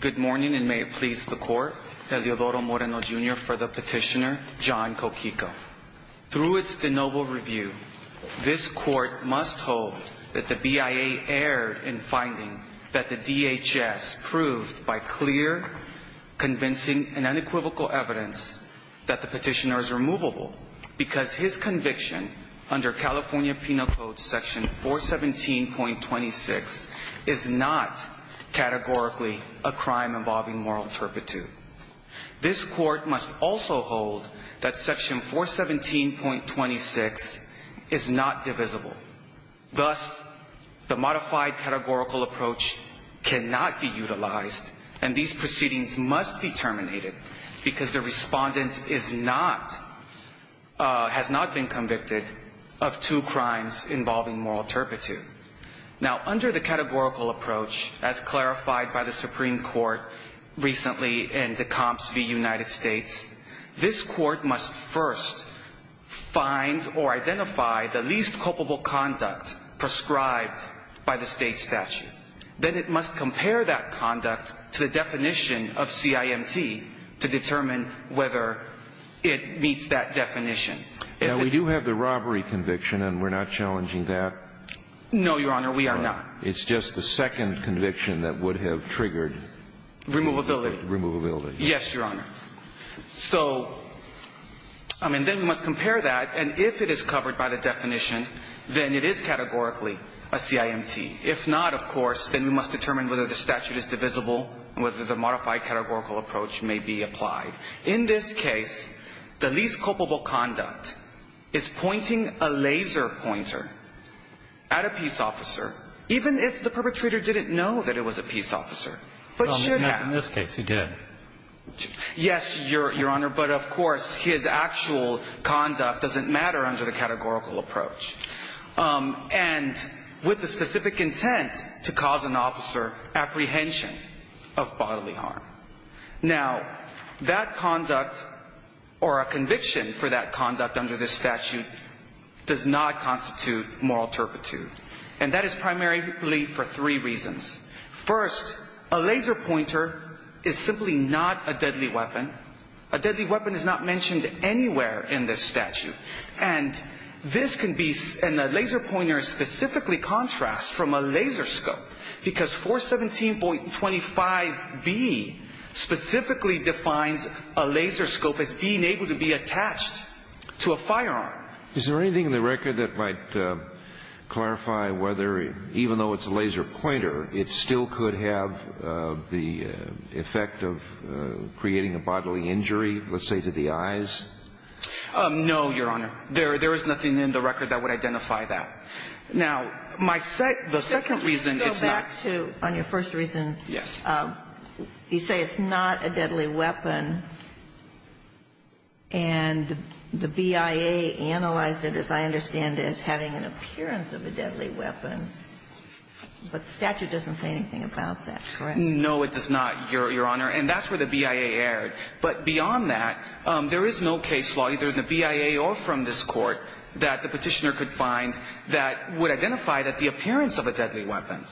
Good morning and may it please the court, Eleodoro Moreno, Jr. for the petitioner, John Coquico. Through its de novo review, this court must hold that the BIA erred in finding that the DHS proved by clear, convincing, and unequivocal evidence that the petitioner is removable because his conviction under California Penal Code section 417.26 is not categorically a crime involving moral turpitude. This court must also hold that section 417.26 is not divisible. Thus, the modified categorical approach cannot be utilized and these proceedings must be terminated because the respondent has not been convicted of two crimes involving moral turpitude. Now, under the categorical approach as clarified by the Supreme Court recently in Decomps v. United States, this court must first find or identify the least culpable conduct prescribed by the state statute. Then it must compare that conduct to the definition of CIMT to determine whether it meets that definition. Now, we do have the robbery conviction and we're not challenging that? No, Your Honor, we are not. It's just the second conviction that would have triggered. Removability. Removability. Yes, Your Honor. So, I mean, then we must compare that and if it is covered by the definition, then it is categorically a CIMT. If not, of course, then we must determine whether the statute is divisible and whether the modified categorical approach may be applied. In this case, the least culpable conduct is pointing a laser pointer at a peace officer, even if the perpetrator didn't know that it was a peace officer, but should have. In this case, he did. Yes, Your Honor, but of course, his actual conduct doesn't matter under the categorical approach. And with the specific intent to cause an officer apprehension of bodily harm. Now, that conduct or a conviction for that conduct under this statute does not constitute moral turpitude. And that is primarily for three reasons. First, a laser pointer is simply not a deadly weapon. A deadly weapon is not mentioned anywhere in this statute. And this can be, and the laser pointer specifically contrasts from a laser scope because 417.25B specifically defines a laser scope as being able to be attached to a firearm. Is there anything in the record that might clarify whether, even though it's a laser pointer, it still could have the effect of creating a bodily injury, let's say to the eyes? No, Your Honor. There is nothing in the record that would identify that. Now, my second, the second reason it's not. Could you go back to on your first reason? Yes. You say it's not a deadly weapon. And the BIA analyzed it, as I understand it, as having an appearance of a deadly weapon. But the statute doesn't say anything about that, correct? No, it does not, Your Honor. And that's where the BIA erred. But beyond that, there is no case law, either the BIA or from this Court, that the petitioner could find that would identify that the appearance of a deadly weapon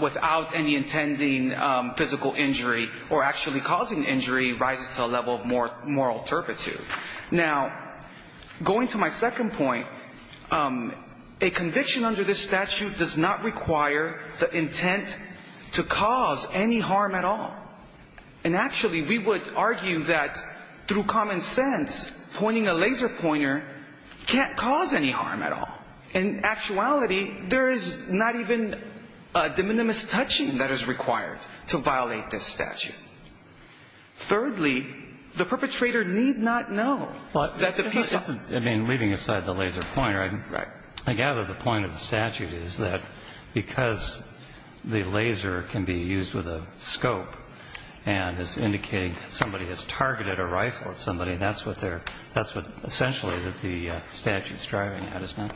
without any intending physical injury or actually causing injury rises to a level of moral turpitude. Now, going to my second point, a conviction under this statute does not require the intent to cause any harm at all. And actually, we would argue that through common sense, pointing a laser pointer can't cause any harm at all. In actuality, there is not even a de minimis touching that is required to violate this statute. Thirdly, the perpetrator need not know that the piece of the... I mean, leaving aside the laser pointer... Right. I gather the point of the statute is that because the laser can be used with a scope and is indicating somebody has targeted a rifle at somebody, that's what they're – that's what essentially that the statute's driving at, isn't it?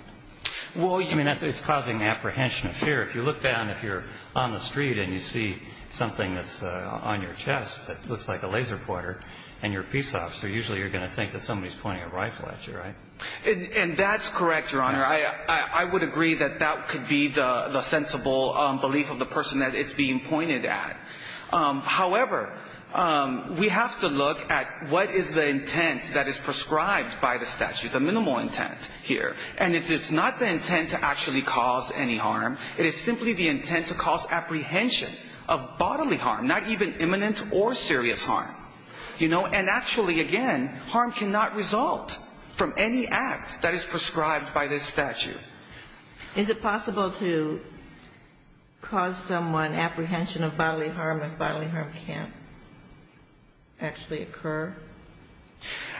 Well, you... I mean, it's causing apprehension of fear. If you look down, if you're on the street and you see something that's on your chest that looks like a laser pointer and you're a peace officer, usually you're going to think that somebody's pointing a rifle at you, right? And that's correct, Your Honor. I would agree that that could be the sensible belief of the person that it's being pointed at. However, we have to look at what is the intent that is prescribed by the statute, the minimal intent here. And it's not the intent to actually cause any harm. It is simply the intent to cause apprehension of bodily harm, not even imminent or serious harm. And actually, again, harm cannot result from any act that is prescribed by this statute. Is it possible to cause someone apprehension of bodily harm if bodily harm can't actually occur?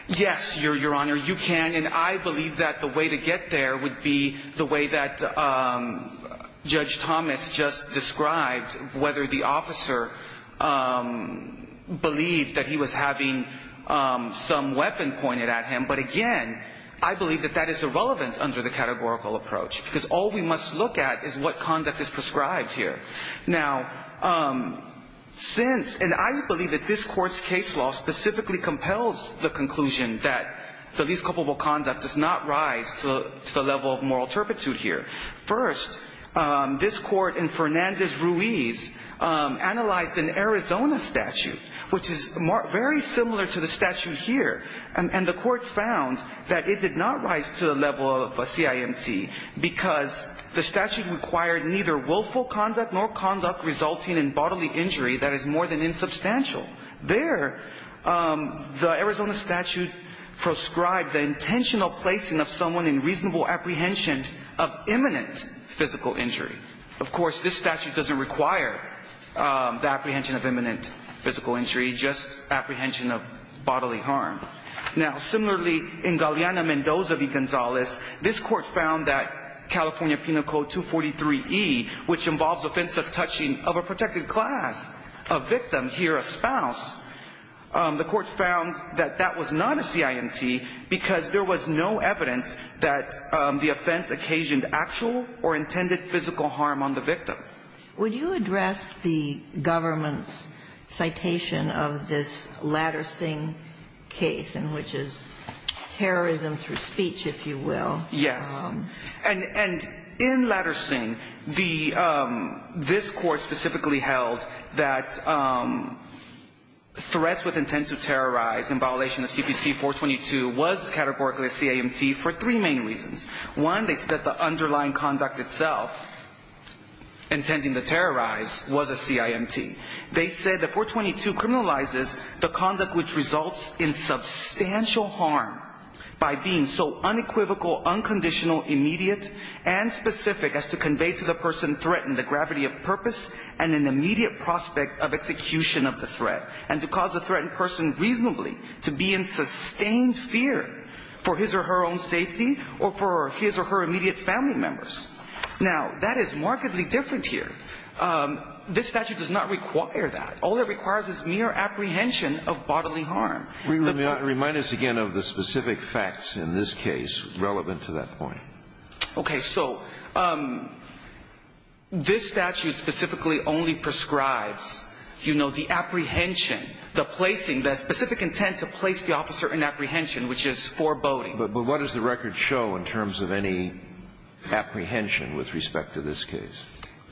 Yes, Your Honor, you can. And I believe that the way to get there would be the way that Judge Thomas just described, whether the officer believed that he was having some weapon pointed at him. But, again, I believe that that is irrelevant under the categorical approach because all we must look at is what conduct is prescribed here. Now, since – and I believe that this Court's case law specifically compels the conclusion that the least culpable conduct does not rise to the level of moral turpitude here. First, this Court in Fernandez-Ruiz analyzed an Arizona statute, which is very similar to the statute here. And the Court found that it did not rise to the level of a CIMT because the statute required neither willful conduct nor conduct resulting in bodily injury that is more than insubstantial. There, the Arizona statute proscribed the intentional placing of someone in reasonable apprehension of imminent physical injury. Of course, this statute doesn't require the apprehension of imminent physical injury, just apprehension of bodily harm. Now, similarly, in Galeana Mendoza v. Gonzalez, this Court found that California Penal Code 243e, which involves offensive touching of a protected class, a victim, here a spouse, the Court found that that was not a CIMT because there was no evidence that the offense occasioned actual or intended physical harm on the victim. Would you address the government's citation of this Latter-Singh case, in which is terrorism through speech, if you will? Yes. And in Latter-Singh, this Court specifically held that threats with intent to terrorize in violation of CPC 422 was categorically a CIMT for three main reasons. One, they said that the underlying conduct itself, intending to terrorize, was a CIMT. They said that 422 criminalizes the conduct which results in substantial harm by being so unequivocal, unconditional, immediate, and specific, as to convey to the person threatened the gravity of purpose and an immediate prospect of execution of the threat, and to cause the threatened person reasonably to be in sustained fear for his or her own safety or for his or her immediate family members. Now, that is markedly different here. This statute does not require that. All it requires is mere apprehension of bodily harm. Remind us again of the specific facts in this case relevant to that point. Okay. So this statute specifically only prescribes, you know, the apprehension, the placing, the specific intent to place the officer in apprehension, which is foreboding. But what does the record show in terms of any apprehension with respect to this case?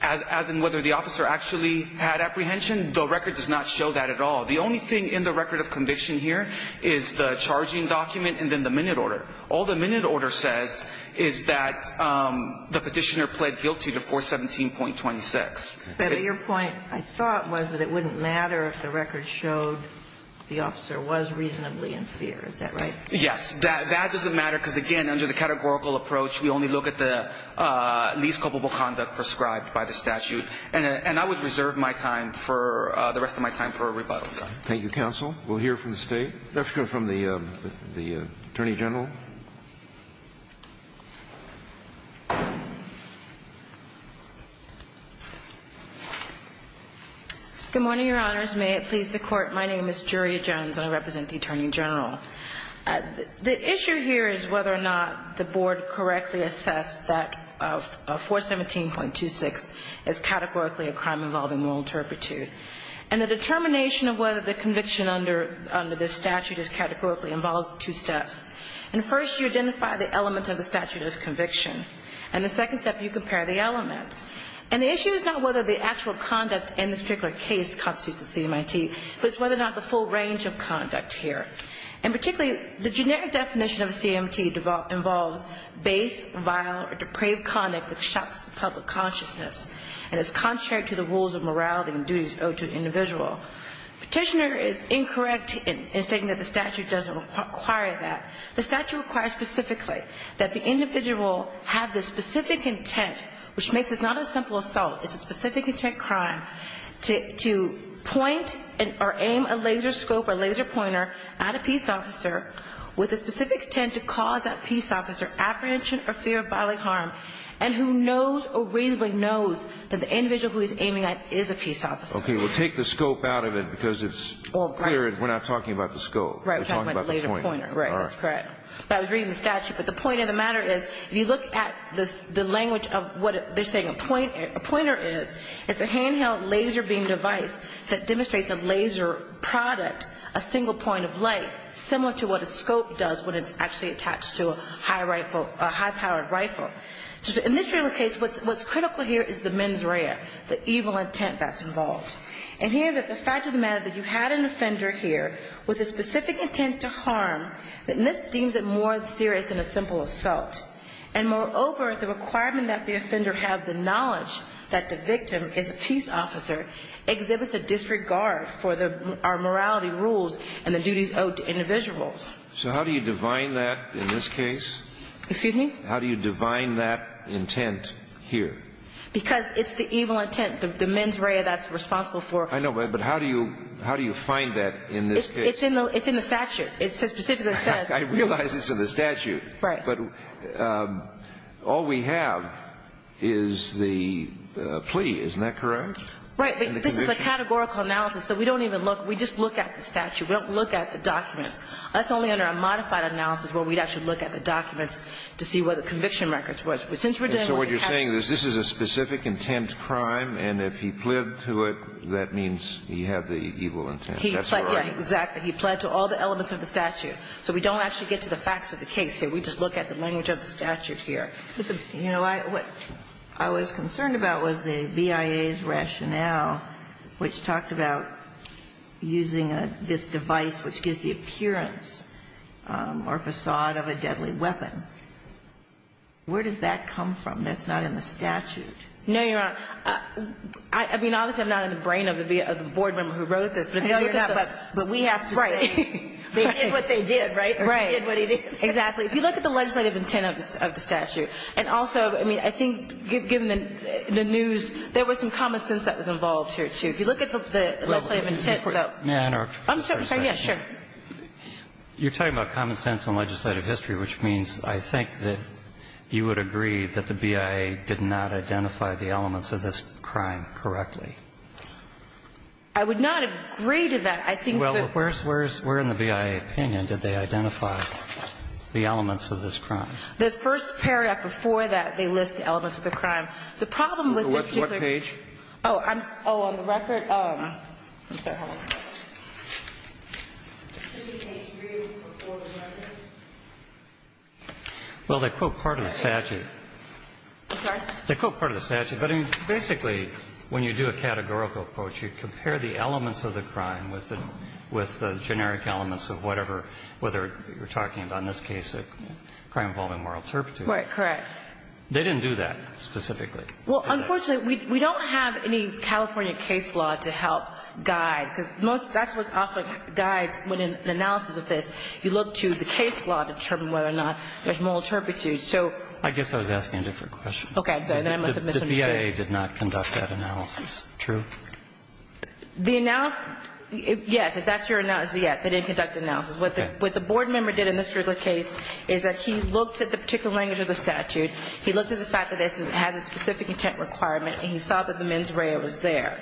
As in whether the officer actually had apprehension, the record does not show that at all. The only thing in the record of conviction here is the charging document and then the minute order. All the minute order says is that the Petitioner pled guilty to 417.26. But your point, I thought, was that it wouldn't matter if the record showed the officer was reasonably in fear. Is that right? Yes. That doesn't matter because, again, under the categorical approach, we only look at the least culpable conduct prescribed by the statute. And I would reserve my time for the rest of my time for rebuttal. Thank you, counsel. We'll hear from the State. Let's go from the Attorney General. Good morning, Your Honors. May it please the Court. My name is Juria Jones, and I represent the Attorney General. The issue here is whether or not the Board correctly assessed that 417.26 is categorically a crime involving moral turpitude. And the determination of whether the conviction under this statute is categorically involves two steps. First, you identify the element of the statute of conviction. And the second step, you compare the elements. And the issue is not whether the actual conduct in this particular case constitutes a CMIT, but it's whether or not the full range of conduct here. And particularly, the generic definition of a CMT involves base, vile, or depraved conduct that shocks the public consciousness and is contrary to the rules of morality and duties owed to an individual. Petitioner is incorrect in stating that the statute doesn't require that. The statute requires specifically that the individual have the specific intent, which makes this not a simple assault, it's a specific intent crime, to point or aim a laser scope or laser pointer at a peace officer with a specific intent to cause that peace officer apprehension or fear of bodily harm and who knows or reasonably knows that the individual who he's aiming at is a peace officer. Okay. Well, take the scope out of it because it's clear we're not talking about the scope. We're talking about the pointer. Right. That's correct. But I was reading the statute. But the point of the matter is if you look at the language of what they're saying a pointer is, it's a handheld laser beam device that demonstrates a laser product, a single point of light similar to what a scope does when it's actually attached to a high-powered rifle. So in this real case, what's critical here is the mens rea, the evil intent that's involved. And here the fact of the matter is that you had an offender here with a specific intent to harm, and this deems it more serious than a simple assault. And moreover, the requirement that the offender have the knowledge that the victim is a peace officer exhibits a disregard for our morality rules and the duties owed to individuals. So how do you divine that in this case? Excuse me? How do you divine that intent here? Because it's the evil intent, the mens rea that's responsible for. I know. But how do you find that in this case? It's in the statute. It specifically says. I realize it's in the statute. Right. But all we have is the plea. Isn't that correct? Right. But this is a categorical analysis. So we don't even look. We just look at the statute. We don't look at the documents. That's only under a modified analysis where we'd actually look at the documents to see what the conviction record was. But since we're doing what we have to do. So what you're saying is this is a specific intent crime, and if he pled to it, that means he had the evil intent. That's what I mean. Exactly. He pled to all the elements of the statute. So we don't actually get to the facts of the case here. We just look at the language of the statute here. You know, what I was concerned about was the BIA's rationale, which talked about using this device which gives the appearance or facade of a deadly weapon. Where does that come from that's not in the statute? No, Your Honor. I mean, obviously, I'm not in the brain of the board member who wrote this. But if you're not. But we have to say. Right. They did what they did, right? Right. They did what they did. Exactly. If you look at the legislative intent of the statute, and also, I mean, I think given the news, there was some common sense that was involved here, too. If you look at the legislative intent. May I interrupt for a second? I'm sorry. Yes, sure. You're talking about common sense and legislative history, which means I think that you would agree that the BIA did not identify the elements of this crime correctly. I would not agree to that. I think that. Where in the BIA opinion did they identify the elements of this crime? The first paragraph before that, they list the elements of the crime. The problem with this particular. What page? Oh, on the record. I'm sorry. Hold on. Is page 3 before the record? Well, they quote part of the statute. I'm sorry? They quote part of the statute. But, I mean, basically, when you do a categorical approach, you compare the elements of the crime with the generic elements of whatever, whether you're talking about in this case a crime involving moral turpitude. Right, correct. They didn't do that specifically. Well, unfortunately, we don't have any California case law to help guide, because most of that's what often guides when in analysis of this. You look to the case law to determine whether or not there's moral turpitude. So. I guess I was asking a different question. Okay. The BIA did not conduct that analysis. True? The analysis. Yes. If that's your analysis, yes. They didn't conduct analysis. What the board member did in this particular case is that he looked at the particular language of the statute. He looked at the fact that it has a specific intent requirement, and he saw that the mens rea was there.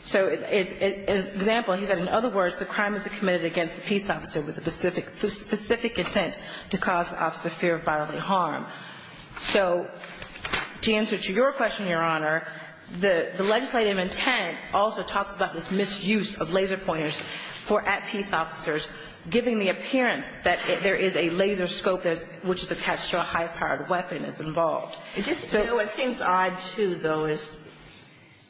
So as an example, he said, in other words, the crime is committed against the peace officer with a specific intent to cause the officer fear of bodily harm. So to answer to your question, Your Honor, the legislative intent also talks about this misuse of laser pointers for at-peace officers, giving the appearance that there is a laser scope which is attached to a high-powered weapon that's involved. You know, it seems odd, too, though, as,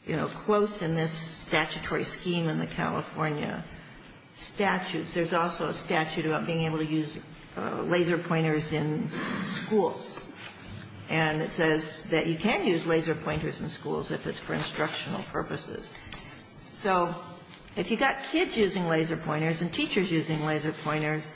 you know, close in this statutory scheme in the California statutes, there's also a statute about being able to use laser pointers in schools. And it says that you can use laser pointers in schools if it's for instructional purposes. So if you've got kids using laser pointers and teachers using laser pointers,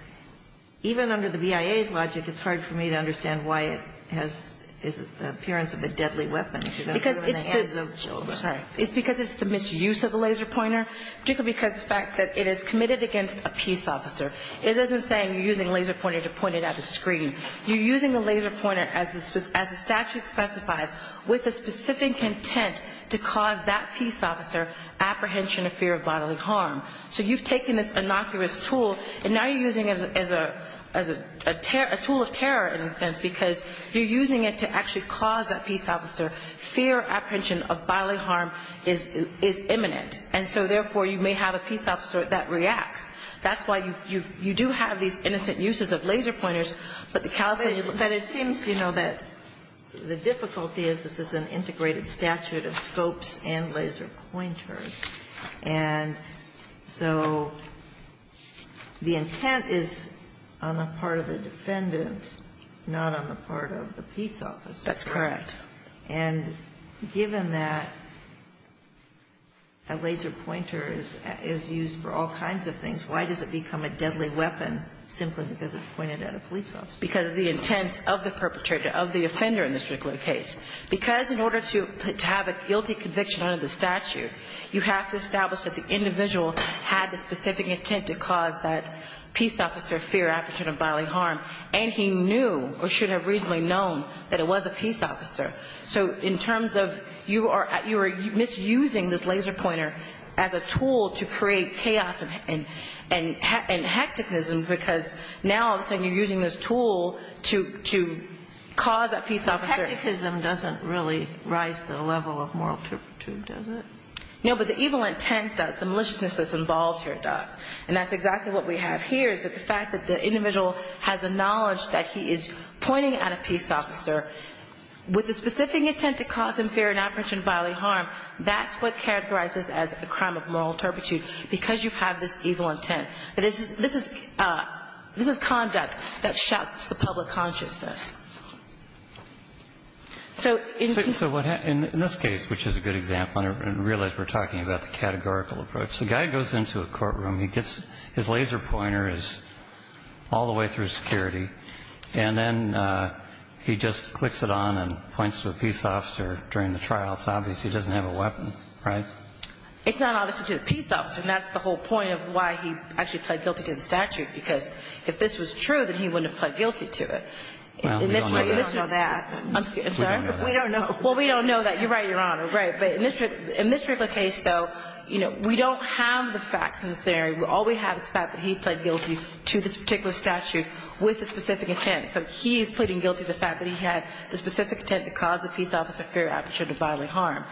even under the BIA's logic, it's hard for me to understand why it has the appearance of a deadly weapon if you're going to put it in the hands of children. It's because it's the misuse of a laser pointer, particularly because of the fact that it is committed against a peace officer. It isn't saying you're using a laser pointer to point it at a screen. You're using a laser pointer, as the statute specifies, with a specific intent to cause that peace officer apprehension of fear of bodily harm. So you've taken this innocuous tool, and now you're using it as a tool of terror, in a sense, because you're using it to actually cause that peace officer fear of apprehension of bodily harm is imminent. And so, therefore, you may have a peace officer that reacts. That's why you do have these innocent uses of laser pointers, but the California law does not. Ginsburg. But it seems, you know, that the difficulty is this is an integrated statute of scopes and laser pointers. And so the intent is on the part of the defendant, not on the part of the peace officer. That's correct. And given that a laser pointer is used for all kinds of things, why does it become a deadly weapon simply because it's pointed at a police officer? Because of the intent of the perpetrator, of the offender in this particular case. Because in order to have a guilty conviction under the statute, you have to establish that the individual had the specific intent to cause that peace officer fear of apprehension of bodily harm, and he knew or should have reasonably known that it was a peace officer. So in terms of you are misusing this laser pointer as a tool to create chaos and hecticness, because now, all of a sudden, you're using this tool to cause that peace officer. Hecticness doesn't really rise to the level of moral turpitude, does it? No, but the evil intent does. The maliciousness that's involved here does. And that's exactly what we have here, is that the fact that the individual has the knowledge that he is pointing at a peace officer with the specific intent to cause him fear of apprehension of bodily harm, that's what characterizes as a crime of moral turpitude, because you have this evil intent. This is conduct that shocks the public consciousness. So in this case, which is a good example, I realize we're talking about the categorical approach. The guy goes into a courtroom, he gets his laser pointer is all the way through security, and then he just clicks it on and points to a peace officer during the trial. It's obvious he doesn't have a weapon, right? It's not obvious to the peace officer, and that's the whole point of why he actually pled guilty to the statute, because if this was true, then he wouldn't have pled guilty to it. Well, we don't know that. I'm sorry? We don't know. Well, we don't know that. You're right, Your Honor. Right. But in this particular case, though, you know, we don't have the facts in this scenario. All we have is the fact that he pled guilty to this particular statute with a specific intent. So he is pleading guilty to the fact that he had the specific intent to cause the peace officer fear of apprehension of bodily harm.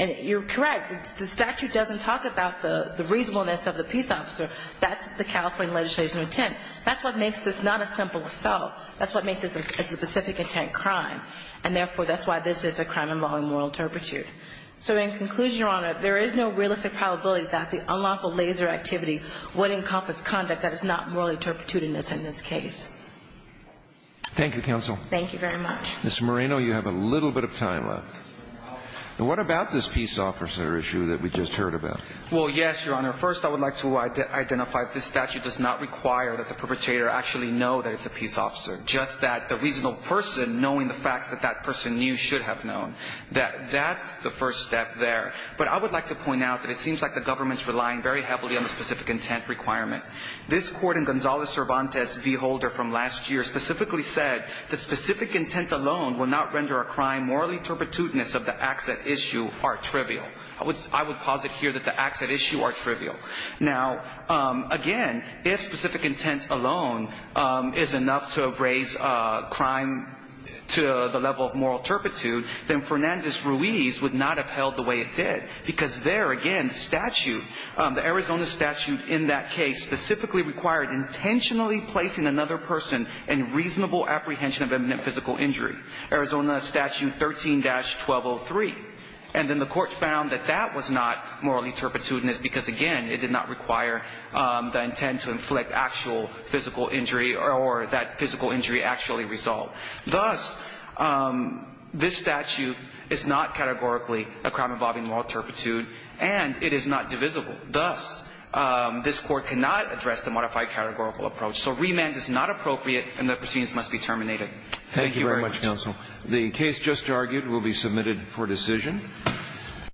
And you're correct. The statute doesn't talk about the reasonableness of the peace officer. That's the California legislation of intent. That's what makes this not a simple assault. That's what makes this a specific intent crime, and therefore, that's why this is a So in conclusion, Your Honor, there is no realistic probability that the unlawful laser activity would encompass conduct that is not morally turpitudinous in this case. Thank you, counsel. Thank you very much. Mr. Moreno, you have a little bit of time left. And what about this peace officer issue that we just heard about? Well, yes, Your Honor. First, I would like to identify this statute does not require that the perpetrator actually know that it's a peace officer, just that the reasonable person knowing the facts that that person knew should have known. That's the first step there. But I would like to point out that it seems like the government is relying very heavily on the specific intent requirement. This court in Gonzales-Cervantes v. Holder from last year specifically said that specific intent alone will not render a crime morally turpitudinous if the acts at issue are trivial. I would posit here that the acts at issue are trivial. Now, again, if specific intent alone is enough to raise crime to the level of moral turpitude, then Fernandez-Ruiz would not have held the way it did because there, again, statute, the Arizona statute in that case specifically required intentionally placing another person in reasonable apprehension of imminent physical injury. Arizona statute 13-1203. And then the court found that that was not morally turpitudinous because, again, it did not require the intent to inflict actual physical injury or that physical injury actually resolved. Thus, this statute is not categorically a crime involving moral turpitude, and it is not divisible. Thus, this court cannot address the modified categorical approach. So remand is not appropriate, and the proceedings must be terminated. Thank you very much, counsel. The case just argued will be submitted for decision.